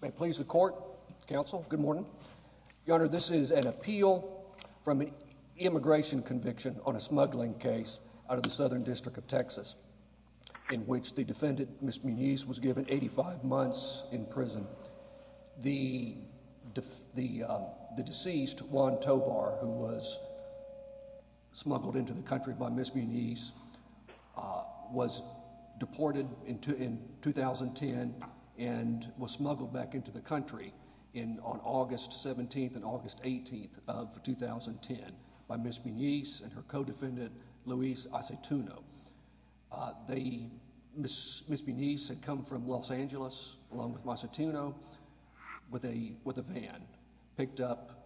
May it please the court, counsel, good morning. Your Honor, this is an appeal from an immigration conviction on a smuggling case out of the Southern District of Texas in which the defendant, Ms. Muniz, was given 85 months in prison. The deceased, Juan Tovar, who was smuggled into the country by Ms. Muniz, was deported in 2010 and was smuggled back into the country in on August 17th and August 18th of 2010 by Ms. Muniz and her co-defendant, Luis Acetuno. Ms. Muniz had come from Los Angeles along with Acetuno with a van, picked up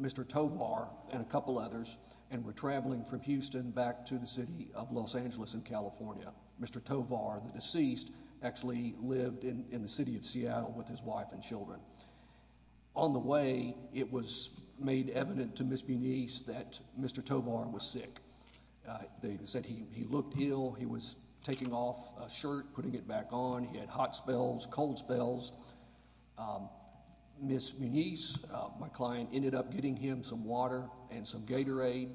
Mr. Tovar and a couple others and were traveling from Houston back to the city of Los Angeles in California. Mr. Tovar, the deceased, actually lived in the city of Seattle with his wife and children. On the way, it was made evident to Ms. Muniz that Mr. Tovar was sick. They said he looked ill, he was taking off a shirt, putting it back on, he had hot spells, cold spells. Ms. Muniz, my client, ended up getting him some water and some Gatorade.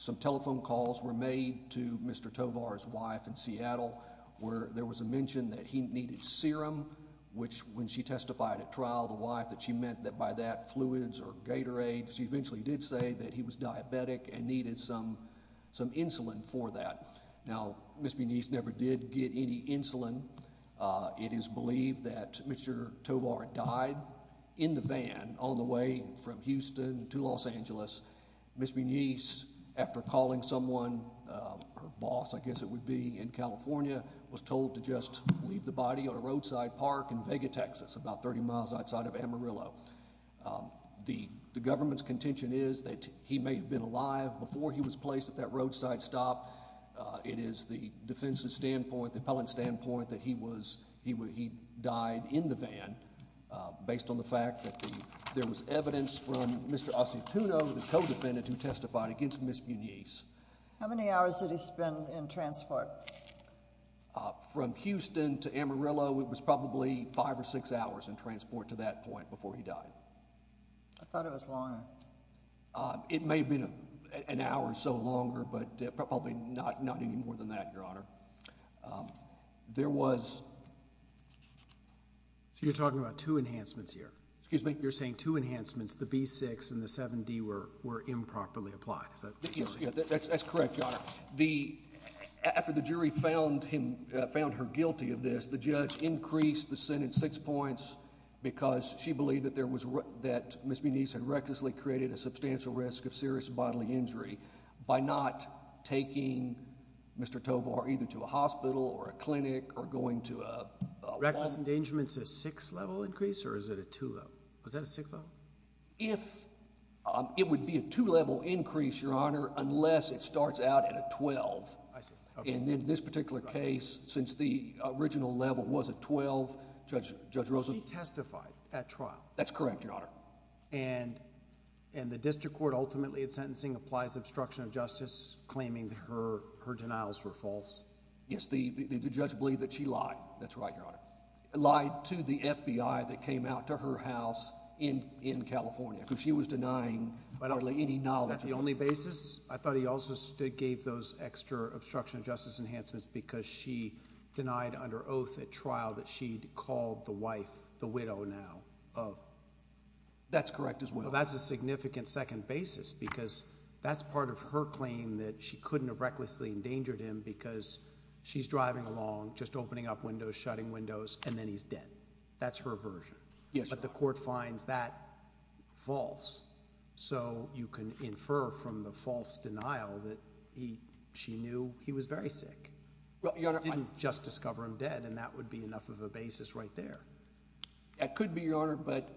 Some telephone calls were made to Mr. Tovar's wife in Seattle where there was a mention that he needed serum which, when she testified at trial, the wife, that she meant that by that fluids or Gatorade, she eventually did say that he was diabetic and needed some insulin for that. Now, Ms. Muniz never did get any insulin. It is believed that Mr. Tovar died in the van on the way from Houston to Los Angeles. Ms. Muniz, after calling someone, her boss, I guess it would be, in California, was told to just leave the body on a roadside park in Vega, Texas, about 30 miles outside of Amarillo. The government's contention is that he may have been alive before he was placed at that roadside stop. It is the defense's standpoint, the appellant's standpoint, that he died in the van based on the fact that there was evidence from Mr. Asituno, the co-defendant who testified against Ms. Muniz. How many hours did he spend in transport? From Houston to Amarillo, it was probably five or six hours in transport to that point before he died. I thought it was longer. It may have been an hour or so longer, but probably not any more than that, Your Honor. So you're talking about two enhancements here? Excuse me? You're saying two enhancements, the B-6 and the 7-D, were improperly applied? Yes, that's correct, Your Honor. After the jury found her guilty of this, the judge increased the sentence six points because she believed that Ms. Muniz had recklessly created a substantial risk of serious bodily injury by not taking Mr. Tovar either to a hospital or a clinic or going to a... Reckless endangerment's a six-level increase, or is it a two-level? Was that a six-level? It would be a two-level increase, Your Honor, unless it starts out at a 12. I see. And in this particular case, since the original level was a 12, Judge Rosen... She testified at trial. That's correct, Your Honor. And the district court ultimately, in sentencing, applies obstruction of justice, claiming that her denials were false? Yes, the judge believed that she lied. That's right, Your Honor. Lied to the FBI that came out to her house in California, because she was denying hardly any knowledge... Is that the only basis? I thought he also gave those extra obstruction of justice enhancements because she denied under oath at trial that she'd called the wife the widow now of... That's correct as well. That's a significant second basis, because that's part of her claim that she couldn't have recklessly endangered him because she's driving along, just opening up windows, shutting windows, and then he's dead. That's her version. Yes, Your Honor. But the court finds that false, so you can infer from the false denial that she knew he was very sick. She didn't just discover him dead, and that would be enough of a basis right there. That could be, Your Honor, but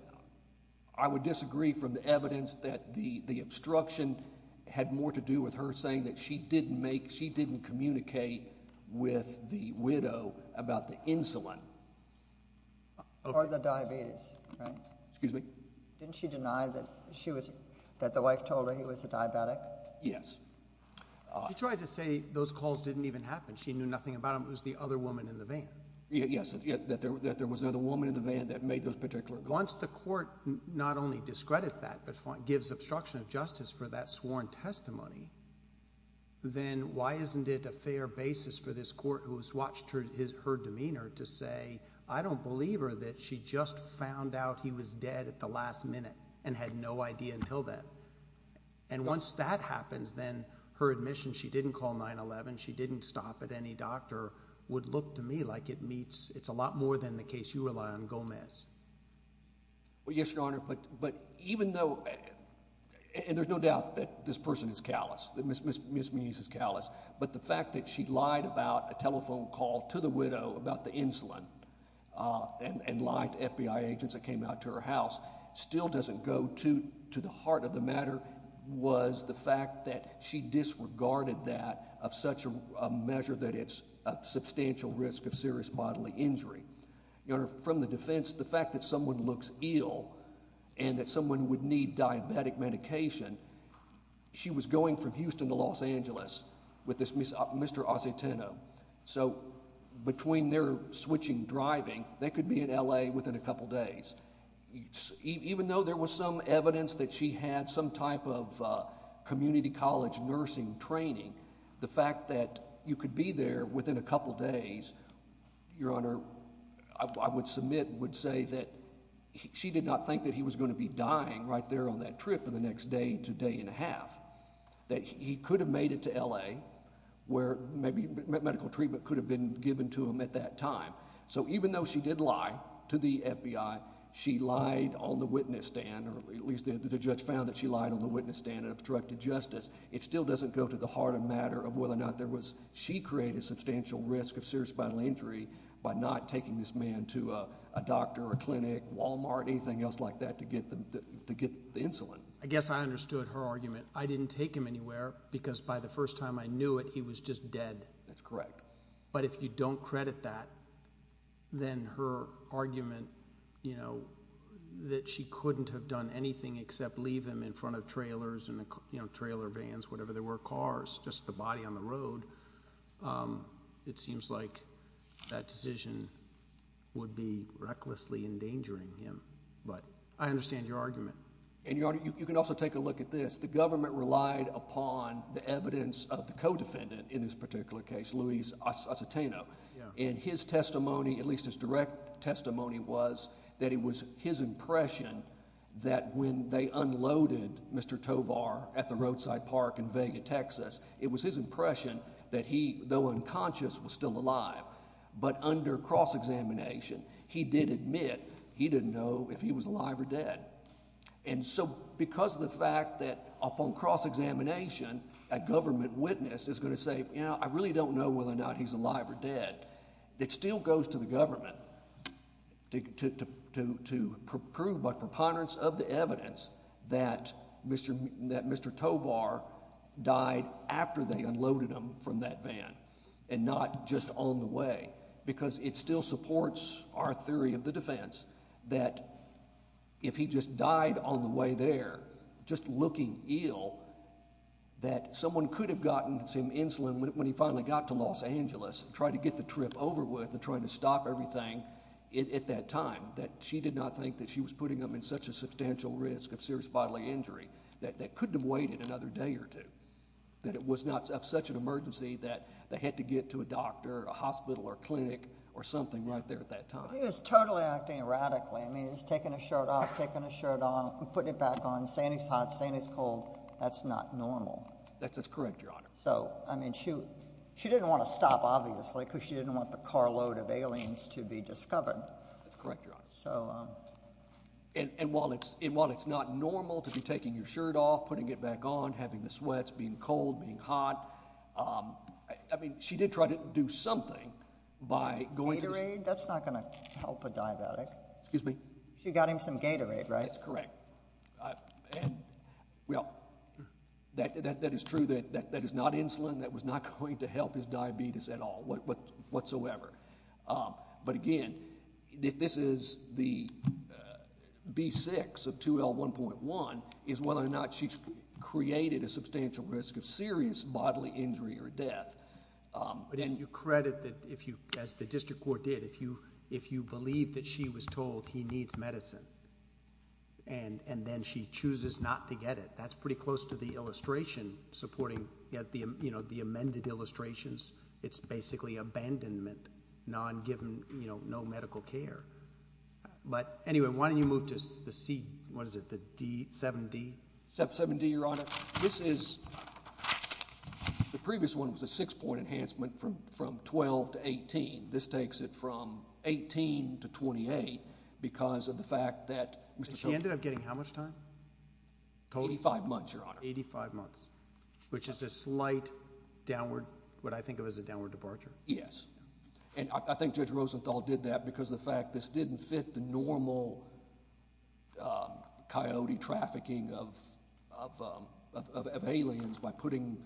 I would disagree from the evidence that the obstruction had more to do with her saying that she didn't communicate with the widow about the insulin. Or the diabetes, right? Excuse me? Didn't she deny that the wife told her he was a diabetic? Yes. She tried to say those calls didn't even happen. She knew nothing about him. It was the other woman in the van. Yes, that there was another woman in the van that made those particular... Once the court not only discredits that, but gives obstruction of justice for that sworn testimony, then why isn't it a fair basis for this court who has watched her demeanor to say, I don't believe her that she just found out he was dead at the last minute and had no idea until then. And once that happens, then her admission she didn't call 911, she didn't stop at any doctor, would look to me like it meets... It's a lot more than the case you rely on, Gomez. Well, yes, Your Honor, but even though... And there's no doubt that this person is callous, that Ms. Meese is callous, but the fact that she lied about a telephone call to the widow about the insulin and lied to FBI agents that came out to her house still doesn't go to the heart of the matter was the fact that she disregarded that of such a measure that it's a substantial risk of serious bodily injury. Your Honor, from the defense, the fact that someone looks ill and that someone would need diabetic medication, she was going from Houston to Los Angeles with this Mr. Aceteno. So between their switching driving, they could be in LA within a couple of days. If she had some type of community college nursing training, the fact that you could be there within a couple of days, Your Honor, I would submit, would say that she did not think that he was going to be dying right there on that trip in the next day to day and a half, that he could have made it to LA where maybe medical treatment could have been given to him at that time. So even though she did lie to the FBI, she lied on the witness stand, or at least the judge found that she lied on the witness stand and obstructed justice, it still doesn't go to the heart of matter of whether or not there was, she created substantial risk of serious bodily injury by not taking this man to a doctor, a clinic, Walmart, anything else like that to get them to get the insulin. I guess I understood her argument. I didn't take him anywhere because by the first time I knew it, he was just dead. That's correct. But if you don't credit that, then her argument, you know, that she couldn't have done anything except leave him in front of trailers and, you know, trailer vans, whatever they were, cars, just the body on the road, it seems like that decision would be recklessly endangering him. But I understand your argument. And Your Honor, you can also take a look at this. The government relied upon the evidence of the at least his direct testimony was that it was his impression that when they unloaded Mr. Tovar at the roadside park in Vega, Texas, it was his impression that he, though unconscious, was still alive. But under cross-examination, he did admit he didn't know if he was alive or dead. And so because of the fact that upon cross-examination, a government witness is going to say, you know, I really don't know whether or not he's alive or dead. It still goes to the government to prove by preponderance of the evidence that Mr. Tovar died after they unloaded him from that van and not just on the way, because it still supports our theory of the defense that if he just died on the way there, just looking ill, that someone could have gotten insulin when he finally got to Los Angeles and tried to get the trip over with and trying to stop everything at that time, that she did not think that she was putting him in such a substantial risk of serious bodily injury that they couldn't have waited another day or two, that it was not such an emergency that they had to get to a doctor or a hospital or clinic or something right there at that time. He was totally acting erratically. I mean, he's taking his shirt off, taking his shirt off, putting it back on, saying he's hot, saying he's cold. That's not normal. That's correct, Your Honor. So, I mean, she didn't want to stop, obviously, because she didn't want the carload of aliens to be discovered. That's correct, Your Honor. And while it's not normal to be taking your shirt off, putting it back on, having the sweats, being cold, being hot, I mean, she did try to do something by going to... Gatorade? That's not going to help a diabetic. Excuse me? She got him some Gatorade, right? That's correct. Well, that is true. That is not insulin that was not going to help his diabetes at all whatsoever. But again, this is the B6 of 2L1.1 is whether or not she created a substantial risk of serious bodily injury or death. But then... Do you credit that if you, as the district court did, if you believe that she was told he needs medicine and then she chooses not to get it? That's pretty close to the illustration supporting, you know, the amended illustrations. It's basically abandonment, non-given, you know, no medical care. But anyway, why don't you move to the C, what is it, the 7D? 7D, Your Honor. This is, the previous one was a six-point enhancement from 12 to 18. This takes it from 18 to 28 because of the fact that... She ended up getting how much time? 85 months, Your Honor. 85 months, which is a slight downward, what I think of as a downward departure. Yes. And I think Judge Rosenthal did that because of the fact this didn't fit the normal coyote trafficking of aliens by putting,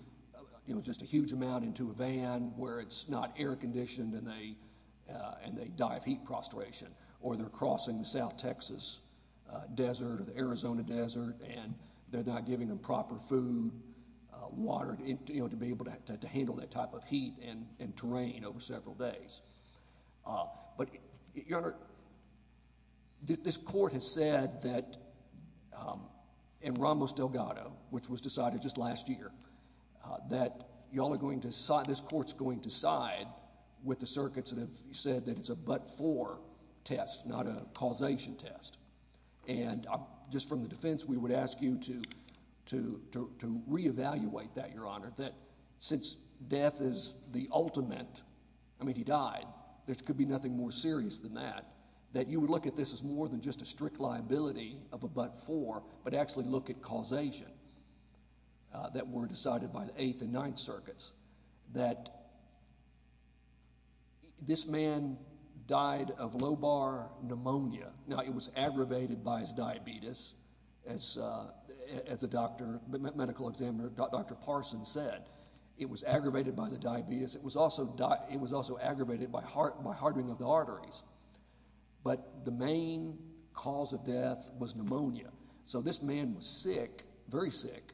you know, just a huge amount into a van where it's not air-conditioned and they die of heat prostration or they're crossing the South Texas desert or the Arizona desert and they're not giving them proper food, water, you know, to be able to handle that type of heat and terrain over several days. But, Your Honor, this court has said that in Ramos Delgado, which was decided just last year, that y'all are going to, this court's going to side with the circuits that have said that it's a but-for test, not a causation test. And just from the defense, we would ask you to reevaluate that, Your Honor, that since death is the ultimate, I mean, he died, there could be nothing more serious than that, that you would look at this as more than just strict liability of a but-for, but actually look at causation that were decided by the Eighth and Ninth Circuits, that this man died of low-bar pneumonia. Now, it was aggravated by his diabetes, as the doctor, medical examiner, Dr. Parson said. It was aggravated by the diabetes. It was also aggravated by hardening of the arteries. But the main cause of death was pneumonia. So, this man was sick, very sick,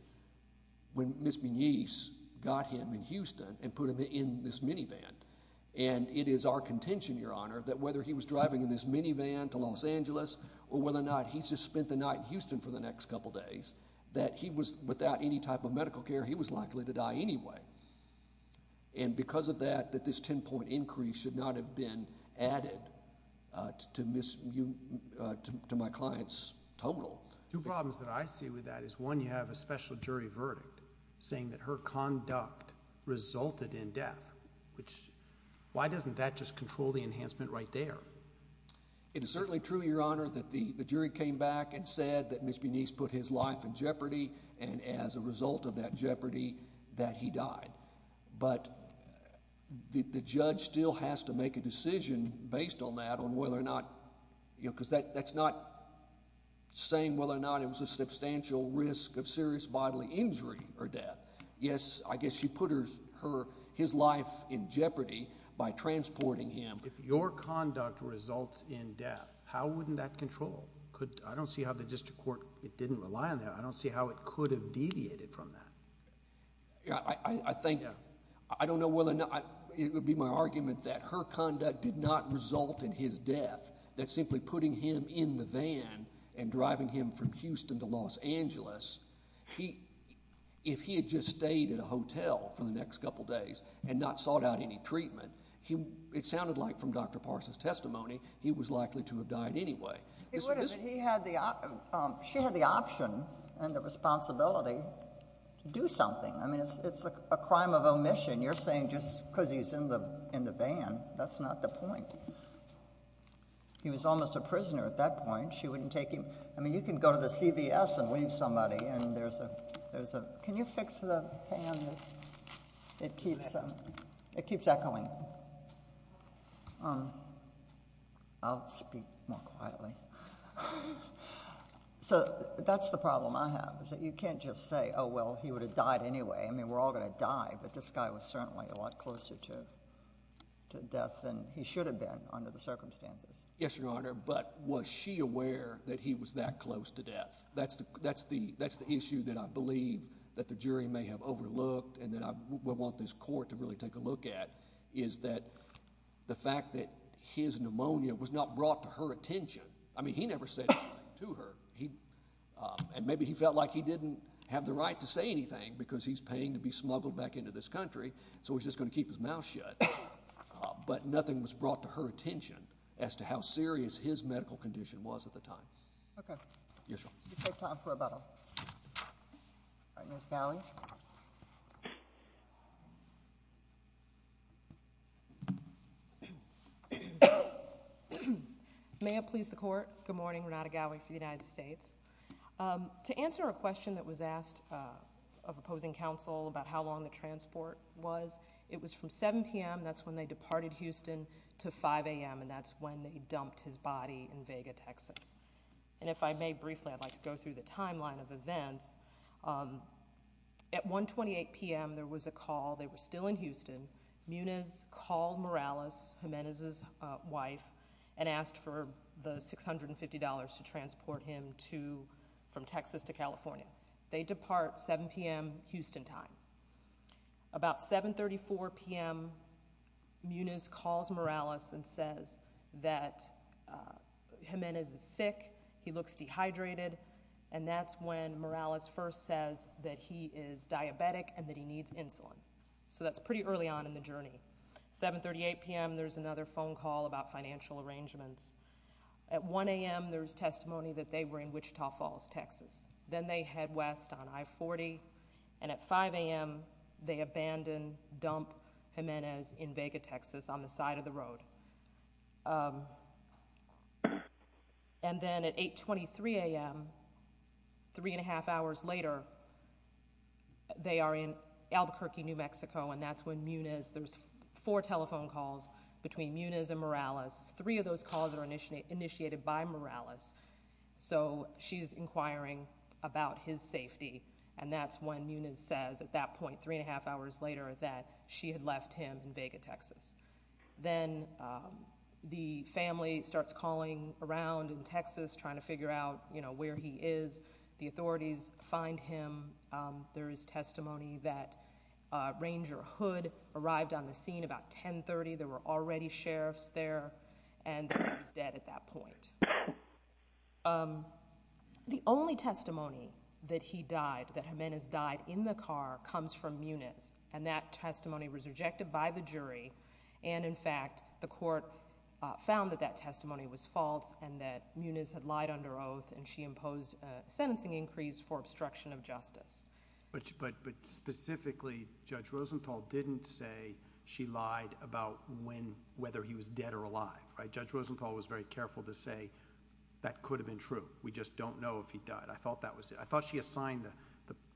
when Ms. Menice got him in Houston and put him in this minivan. And it is our contention, Your Honor, that whether he was driving in this minivan to Los Angeles or whether or not he just spent the night in Houston for the next couple days, that he was, without any type of should not have been added to my client's total. Two problems that I see with that is, one, you have a special jury verdict saying that her conduct resulted in death, which, why doesn't that just control the enhancement right there? It is certainly true, Your Honor, that the jury came back and said that Ms. Menice put his life in jeopardy, and as a result of that jeopardy, that the judge still has to make a decision based on that on whether or not, you know, because that's not saying whether or not it was a substantial risk of serious bodily injury or death. Yes, I guess she put her, his life in jeopardy by transporting him. If your conduct results in death, how wouldn't that control? I don't see how the district court didn't rely on that. I don't see how it could have deviated from that. Yeah, I think, I don't know whether or not, it would be my argument that her conduct did not result in his death, that simply putting him in the van and driving him from Houston to Los Angeles, he, if he had just stayed at a hotel for the next couple days and not sought out any treatment, he, it sounded like from Dr. Parsons' testimony, he was likely to have died anyway. He would have, he had the, she had the option and the responsibility to do something. I mean, it's a crime of omission. You're saying just because he's in the van, that's not the point. He was almost a prisoner at that point. She wouldn't take him. I mean, you can go to the CVS and leave somebody, and there's a, there's a, can you fix the, hang on, it keeps, it keeps echoing. I'll speak more quietly. So that's the problem I have, is that you can't just say, oh, well, he would have died anyway. I mean, we're all going to die, but this guy was certainly a lot closer to, to death than he should have been under the circumstances. Yes, Your Honor, but was she aware that he was that close to death? That's the, that's the issue that I believe that the jury may have overlooked, and that I would want this court to really take a look at, is that the fact that his pneumonia was not brought to her attention. I mean, he never said anything to her. He, and maybe he felt like he didn't have the right to say anything because he's paying to be smuggled back into this country, so he's just going to keep his mouth shut, but nothing was brought to her attention as to how serious his death was. All right, Ms. Gowdy? May it please the court, good morning, Renata Gowdy for the United States. To answer a question that was asked of opposing counsel about how long the transport was, it was from 7 p.m., that's when they departed Houston, to 5 a.m., and that's when they dumped his timeline of events. At 1.28 p.m., there was a call, they were still in Houston. Muniz called Morales, Jimenez's wife, and asked for the $650 to transport him to, from Texas to California. They depart 7 p.m. Houston time. About 7.34 p.m., Muniz calls Morales and says that he is diabetic and that he needs insulin. So that's pretty early on in the journey. 7.38 p.m., there's another phone call about financial arrangements. At 1 a.m., there's testimony that they were in Wichita Falls, Texas. Then they head west on I-40, and at 5 a.m., they abandon, dump Jimenez in Vega, Texas, on the side of the road. And then, at 8.23 a.m., three and a half hours later, they are in Albuquerque, New Mexico, and that's when Muniz, there's four telephone calls between Muniz and Morales. Three of those calls are initiated by Morales. So she's inquiring about his safety, and that's when Muniz says, at that point, three and a half hours later, that she had him in Vega, Texas. Then the family starts calling around in Texas, trying to figure out, you know, where he is. The authorities find him. There is testimony that Ranger Hood arrived on the scene about 10.30. There were already sheriffs there, and that he was dead at that point. The only testimony that he died, that Jimenez died in the car, comes from Muniz, and that testimony was rejected by the jury, and, in fact, the court found that that testimony was false, and that Muniz had lied under oath, and she imposed a sentencing increase for obstruction of justice. But specifically, Judge Rosenthal didn't say she lied about when, whether he was dead or alive, right? Judge Rosenthal was very careful to say, that could have been true. We just don't know if he died. I thought that was it. I thought she assigned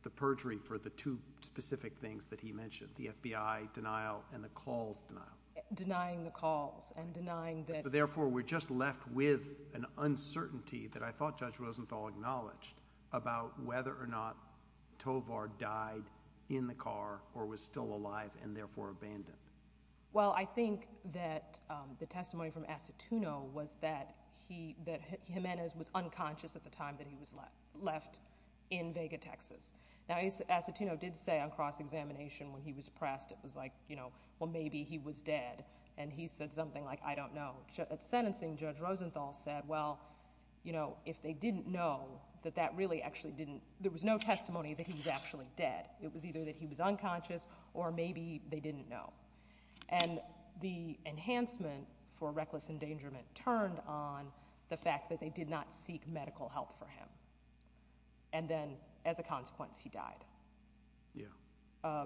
the perjury for the two specific things that he mentioned, the FBI denial and the calls denial. Denying the calls, and denying that. So, therefore, we're just left with an uncertainty that I thought Judge Rosenthal acknowledged, about whether or not Tovar died in the car, or was still alive, and therefore abandoned. Well, I think that the testimony from Acetuno was that he, that Jimenez was unconscious at the time that he was left in Vega, Texas. Now, Acetuno did say on cross-examination when he was pressed, it was like, you know, well, maybe he was dead, and he said something like, I don't know. At sentencing, Judge Rosenthal said, well, you know, if they didn't know, that that really actually didn't, there was no testimony that he was actually dead. It was either that he was unconscious, or maybe they didn't know. And the enhancement for reckless endangerment turned on the fact that they did not seek medical help for him. And then, as a consequence, he died. Yeah.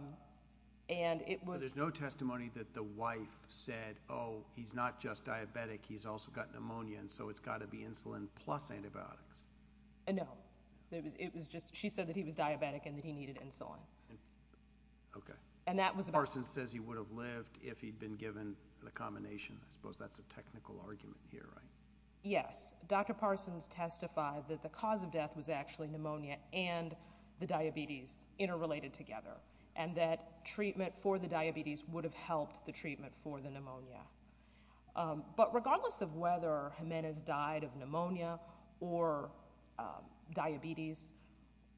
And it was... There's no testimony that the wife said, oh, he's not just diabetic, he's also got pneumonia, and so it's got to be insulin plus antibiotics. No. It was, it was just, she said that he was diabetic, and that he needed insulin. Okay. And that was... The person says he would have lived if he'd been given the combination. I suppose that's a technical argument here, right? Yes. Dr. Parsons testified that the cause of death was actually pneumonia and the diabetes interrelated together, and that treatment for the diabetes would have helped the treatment for the pneumonia. But regardless of whether Jimenez died of pneumonia or diabetes,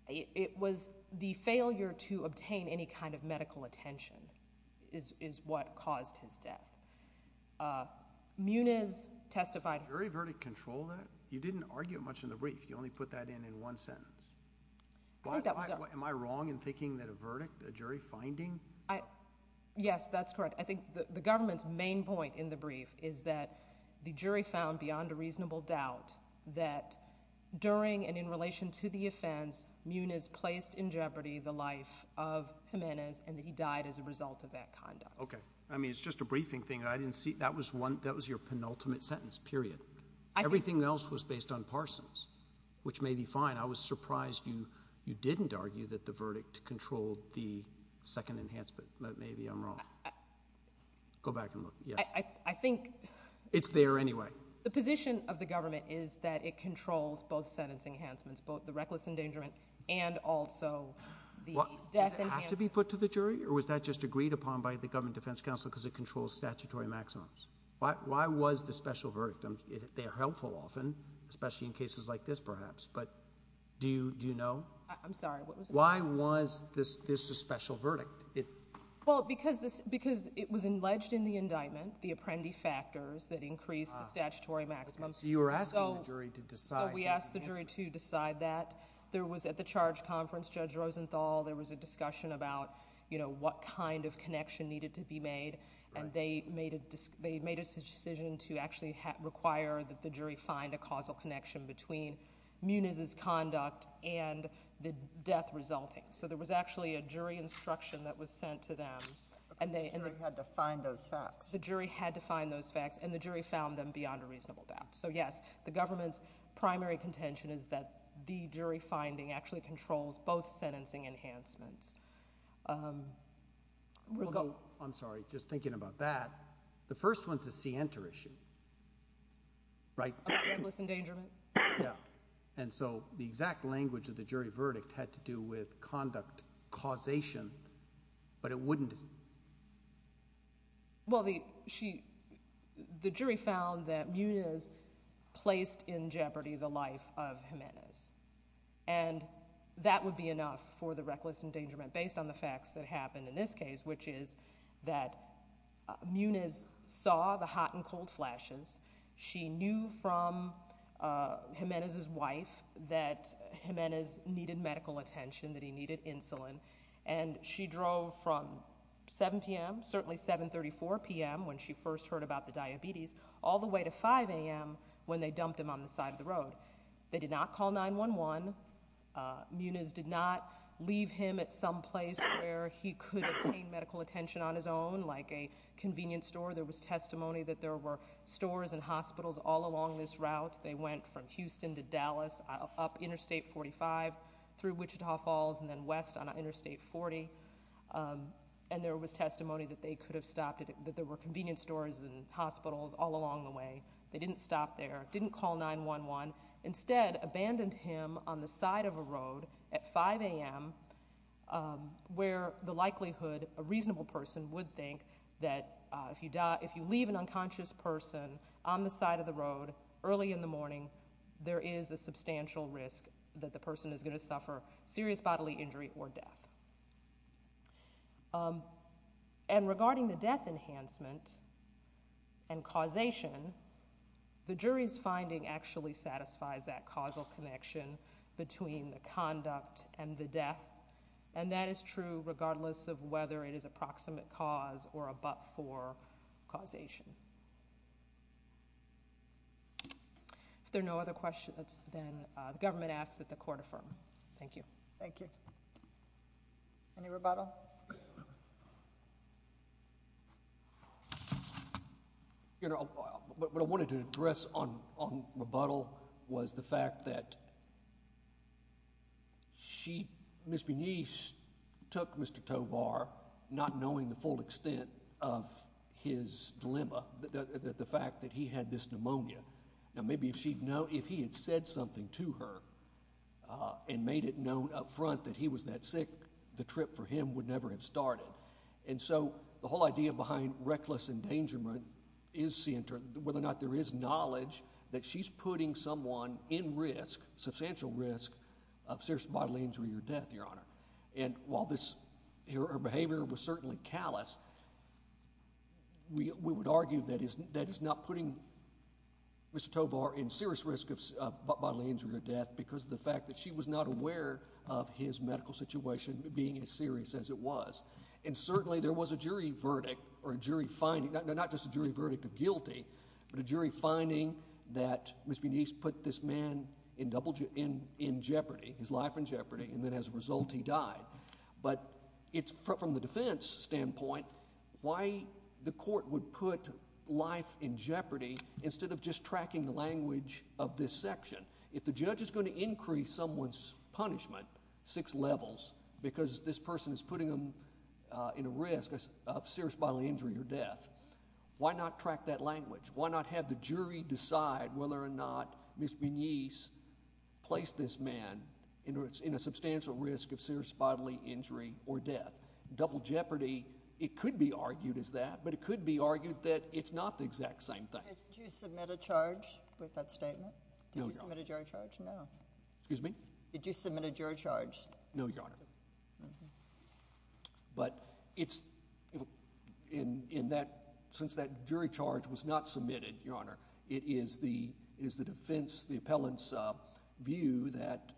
it was the failure to obtain any kind of medical attention is what caused his death. Muniz testified... Did the jury verdict control that? You didn't argue it much in the brief. You only put that in in one sentence. I think that was... Am I wrong in thinking that a verdict, a jury finding... Yes, that's correct. I think the government's main point in the brief is that the jury found, beyond a reasonable doubt, that during and in relation to the offense, Muniz placed in jeopardy the life of Jimenez and that he died as a result of that conduct. Okay. I mean, it's just a briefing thing. I didn't see... That was one, that was your penultimate sentence, period. Everything else was based on Parsons, which may be fine. I was surprised you, you didn't argue that the verdict controlled the second enhancement, but maybe I'm wrong. Go back and look. Yeah. I think... It's there anyway. The position of the government is that it controlled the reckless endangerment and also the death enhancement. Does it have to be put to the jury or was that just agreed upon by the government defense counsel because it controls statutory maximums? Why was the special verdict? They are helpful often, especially in cases like this perhaps, but do you know? I'm sorry, what was it? Why was this a special verdict? Well, because it was alleged in the indictment, the apprendi factors that increased the statutory maximum. You were asking the jury to decide. So we asked the jury to decide that. There was at the charge conference, Judge Rosenthal, there was a discussion about what kind of connection needed to be made and they made a decision to actually require that the jury find a causal connection between Munez's conduct and the death resulting. So there was actually a jury instruction that was sent to them. The jury had to find those facts. The jury had to find those facts and the jury found them beyond a reasonable doubt. So yes, the government's primary contention is that the jury finding actually controls both sentencing enhancements. I'm sorry, just thinking about that. The first one's a scienter issue, right? Reckless endangerment. Yeah. And so the exact language of the jury verdict had to do with Munez placed in jeopardy the life of Jimenez. And that would be enough for the reckless endangerment based on the facts that happened in this case, which is that Munez saw the hot and cold flashes. She knew from Jimenez's wife that Jimenez needed medical attention, that he needed insulin. And she drove from 7 p.m., certainly 7.34 p.m. when she first heard about the diabetes, all the way to 5 a.m. when they dumped him on the side of the road. They did not call 911. Munez did not leave him at some place where he could obtain medical attention on his own, like a convenience store. There was testimony that there were stores and hospitals all along this route. They went from Houston to Dallas, up Interstate 45, through Wichita Falls, and then west on Interstate 40. And there was testimony that they could have stopped it, that there were convenience stores and hospitals all along the way. They didn't stop there, didn't call 911. Instead, abandoned him on the side of a road at 5 a.m., where the likelihood a reasonable person would think that if you leave an unconscious person on the side of the road early in the morning, there is a substantial risk that the person is going to suffer serious bodily injury or death. And regarding the death enhancement and causation, the jury's finding actually satisfies that causal connection between the conduct and the death. And that is true regardless of whether it is approximate cause or a but for causation. If there are no other questions, then the government asks that the court affirm. Thank you. Thank you. Any rebuttal? You know, what I wanted to address on rebuttal was the fact that she, Ms. Benice took Mr. Tovar, not knowing the full extent of his dilemma, the fact that he had this pneumonia. Now, maybe if she'd known, if he had said something to her and made it known up front that he was that sick, the trip for him would never have started. And so, the whole idea behind reckless endangerment is whether or not there is knowledge that she's putting someone in risk, substantial risk, of serious bodily injury or death, Your Honor. And while this, her behavior was certainly callous, we would argue that is not putting Mr. Tovar in serious risk of bodily injury or death because of the fact that she was not aware of his medical situation being as serious as it was. And certainly, there was a jury verdict or a jury finding, not just a jury verdict of guilty, but a jury finding that Ms. Benice put this man in jeopardy, his life in jeopardy, and then as a result, he died. But it's from the defense standpoint, why the court would put life in jeopardy instead of just tracking the language of this section. If the judge is going to increase someone's punishment six levels because this person is putting them in a risk of serious bodily injury or death, why not track that language? Why not have the jury decide whether or not Ms. Benice placed this man in a substantial risk of serious bodily injury or death? Double jeopardy, it could be argued as that, but it could be argued that it's not the exact same thing. Did you submit a charge with that statement? No, Your Honor. Did you submit a jury charge? No. Excuse me? Did you submit a jury charge? No, Your Honor. Okay. But since that jury charge was not submitted, Your Honor, it is the defense, the appellant's view that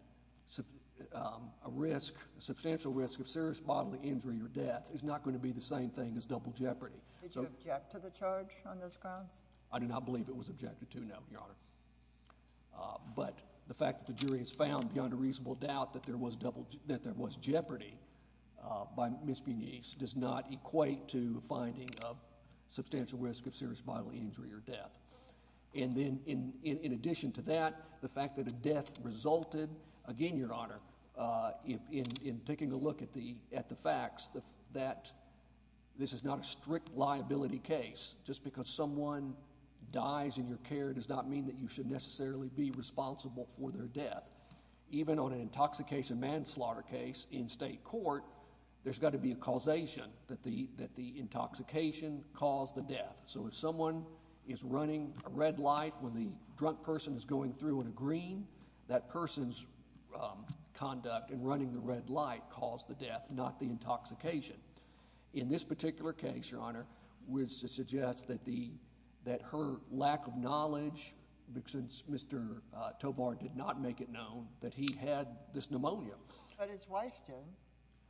a substantial risk of serious bodily injury or death is not going to be the same thing as double jeopardy. Did you object to the charge on those grounds? I do not believe it was objected to, no, Your Honor. But the fact that the jury has found beyond a reasonable doubt that there was jeopardy by Ms. Benice does not equate to a finding of substantial risk of serious bodily injury or death. And then in addition to that, the fact that a death resulted, again, Your Honor, in taking a look at the facts that this is not a strict liability case. Just because someone dies in your care does not mean that you should necessarily be responsible for their death. Even on an intoxication manslaughter case in state court, there's got to be a causation that the intoxication caused the death. So if someone is running a red light when the drunk person is going through in a green, that person's conduct in running the red light caused the death, not the intoxication. In this particular case, Your Honor, which suggests that her lack of he had this pneumonia. But his wife did.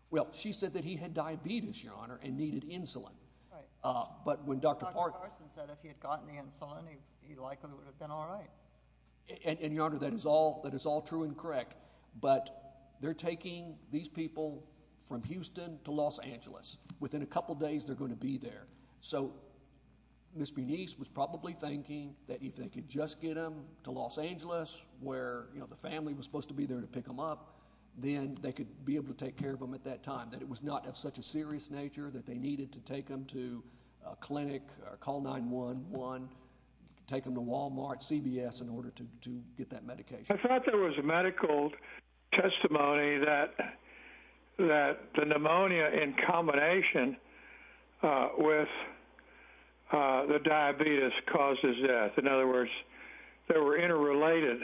Well, she said that he had diabetes, Your Honor, and needed insulin. Right. But when Dr. Carson said if he had gotten the insulin, he likely would have been all right. And Your Honor, that is all true and correct. But they're taking these people from Houston to Los Angeles. Within a couple days, they're going to be there. So Ms. Benice was probably thinking that if they could just get them to Los Angeles where, you know, the family was supposed to be there to pick them up, then they could be able to take care of them at that time, that it was not of such a serious nature that they needed to take them to a clinic, call 911, take them to Walmart, CVS in order to get that medication. I thought there was a medical testimony that that the pneumonia in combination with the diabetes causes death. In fact,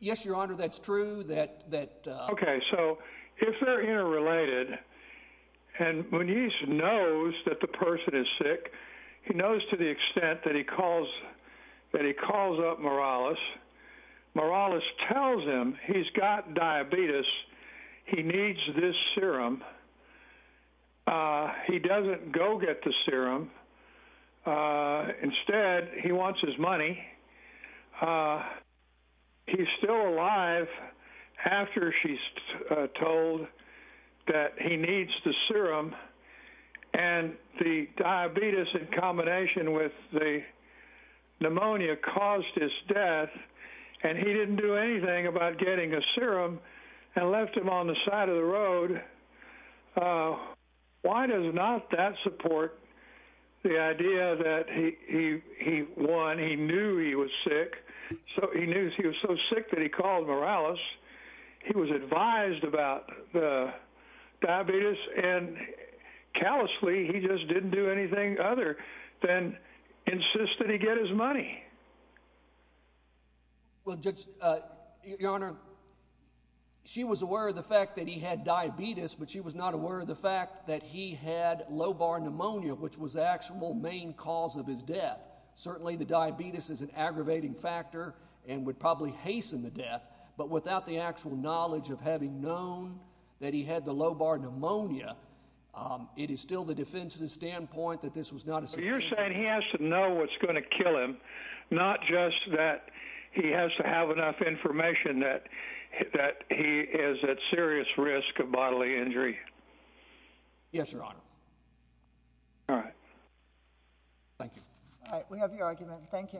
yes, Your Honor, that's true that that. OK, so if they're interrelated and when he knows that the person is sick, he knows to the extent that he calls that he calls up Morales. Morales tells him he's got diabetes. He needs this serum. He doesn't go get the serum. Instead, he wants his money. He's still alive after she's told that he needs the serum. And the diabetes in combination with the pneumonia caused his death. And he didn't do anything about getting a serum and left him on the side of the road. Oh, why does not that support the idea that he he won? He knew he was sick, so he knew he was so sick that he called Morales. He was advised about the diabetes and callously. He just didn't do anything other than insisted he get his money. Well, just, Your Honor. She was aware of the fact that he had diabetes, but she was not aware of the fact that he had low bar pneumonia, which was the actual main cause of his death. Certainly, the diabetes is an aggravating factor and would probably hasten the death. But without the actual knowledge of having known that he had the low bar pneumonia, it is still the defense's standpoint that this was not a so you're saying he has to know what's going to kill him. Not just that he has to have enough information that that he is at serious risk of bodily injury. Yes, Your Honor. All right. Thank you. All right. We have your argument. Thank you.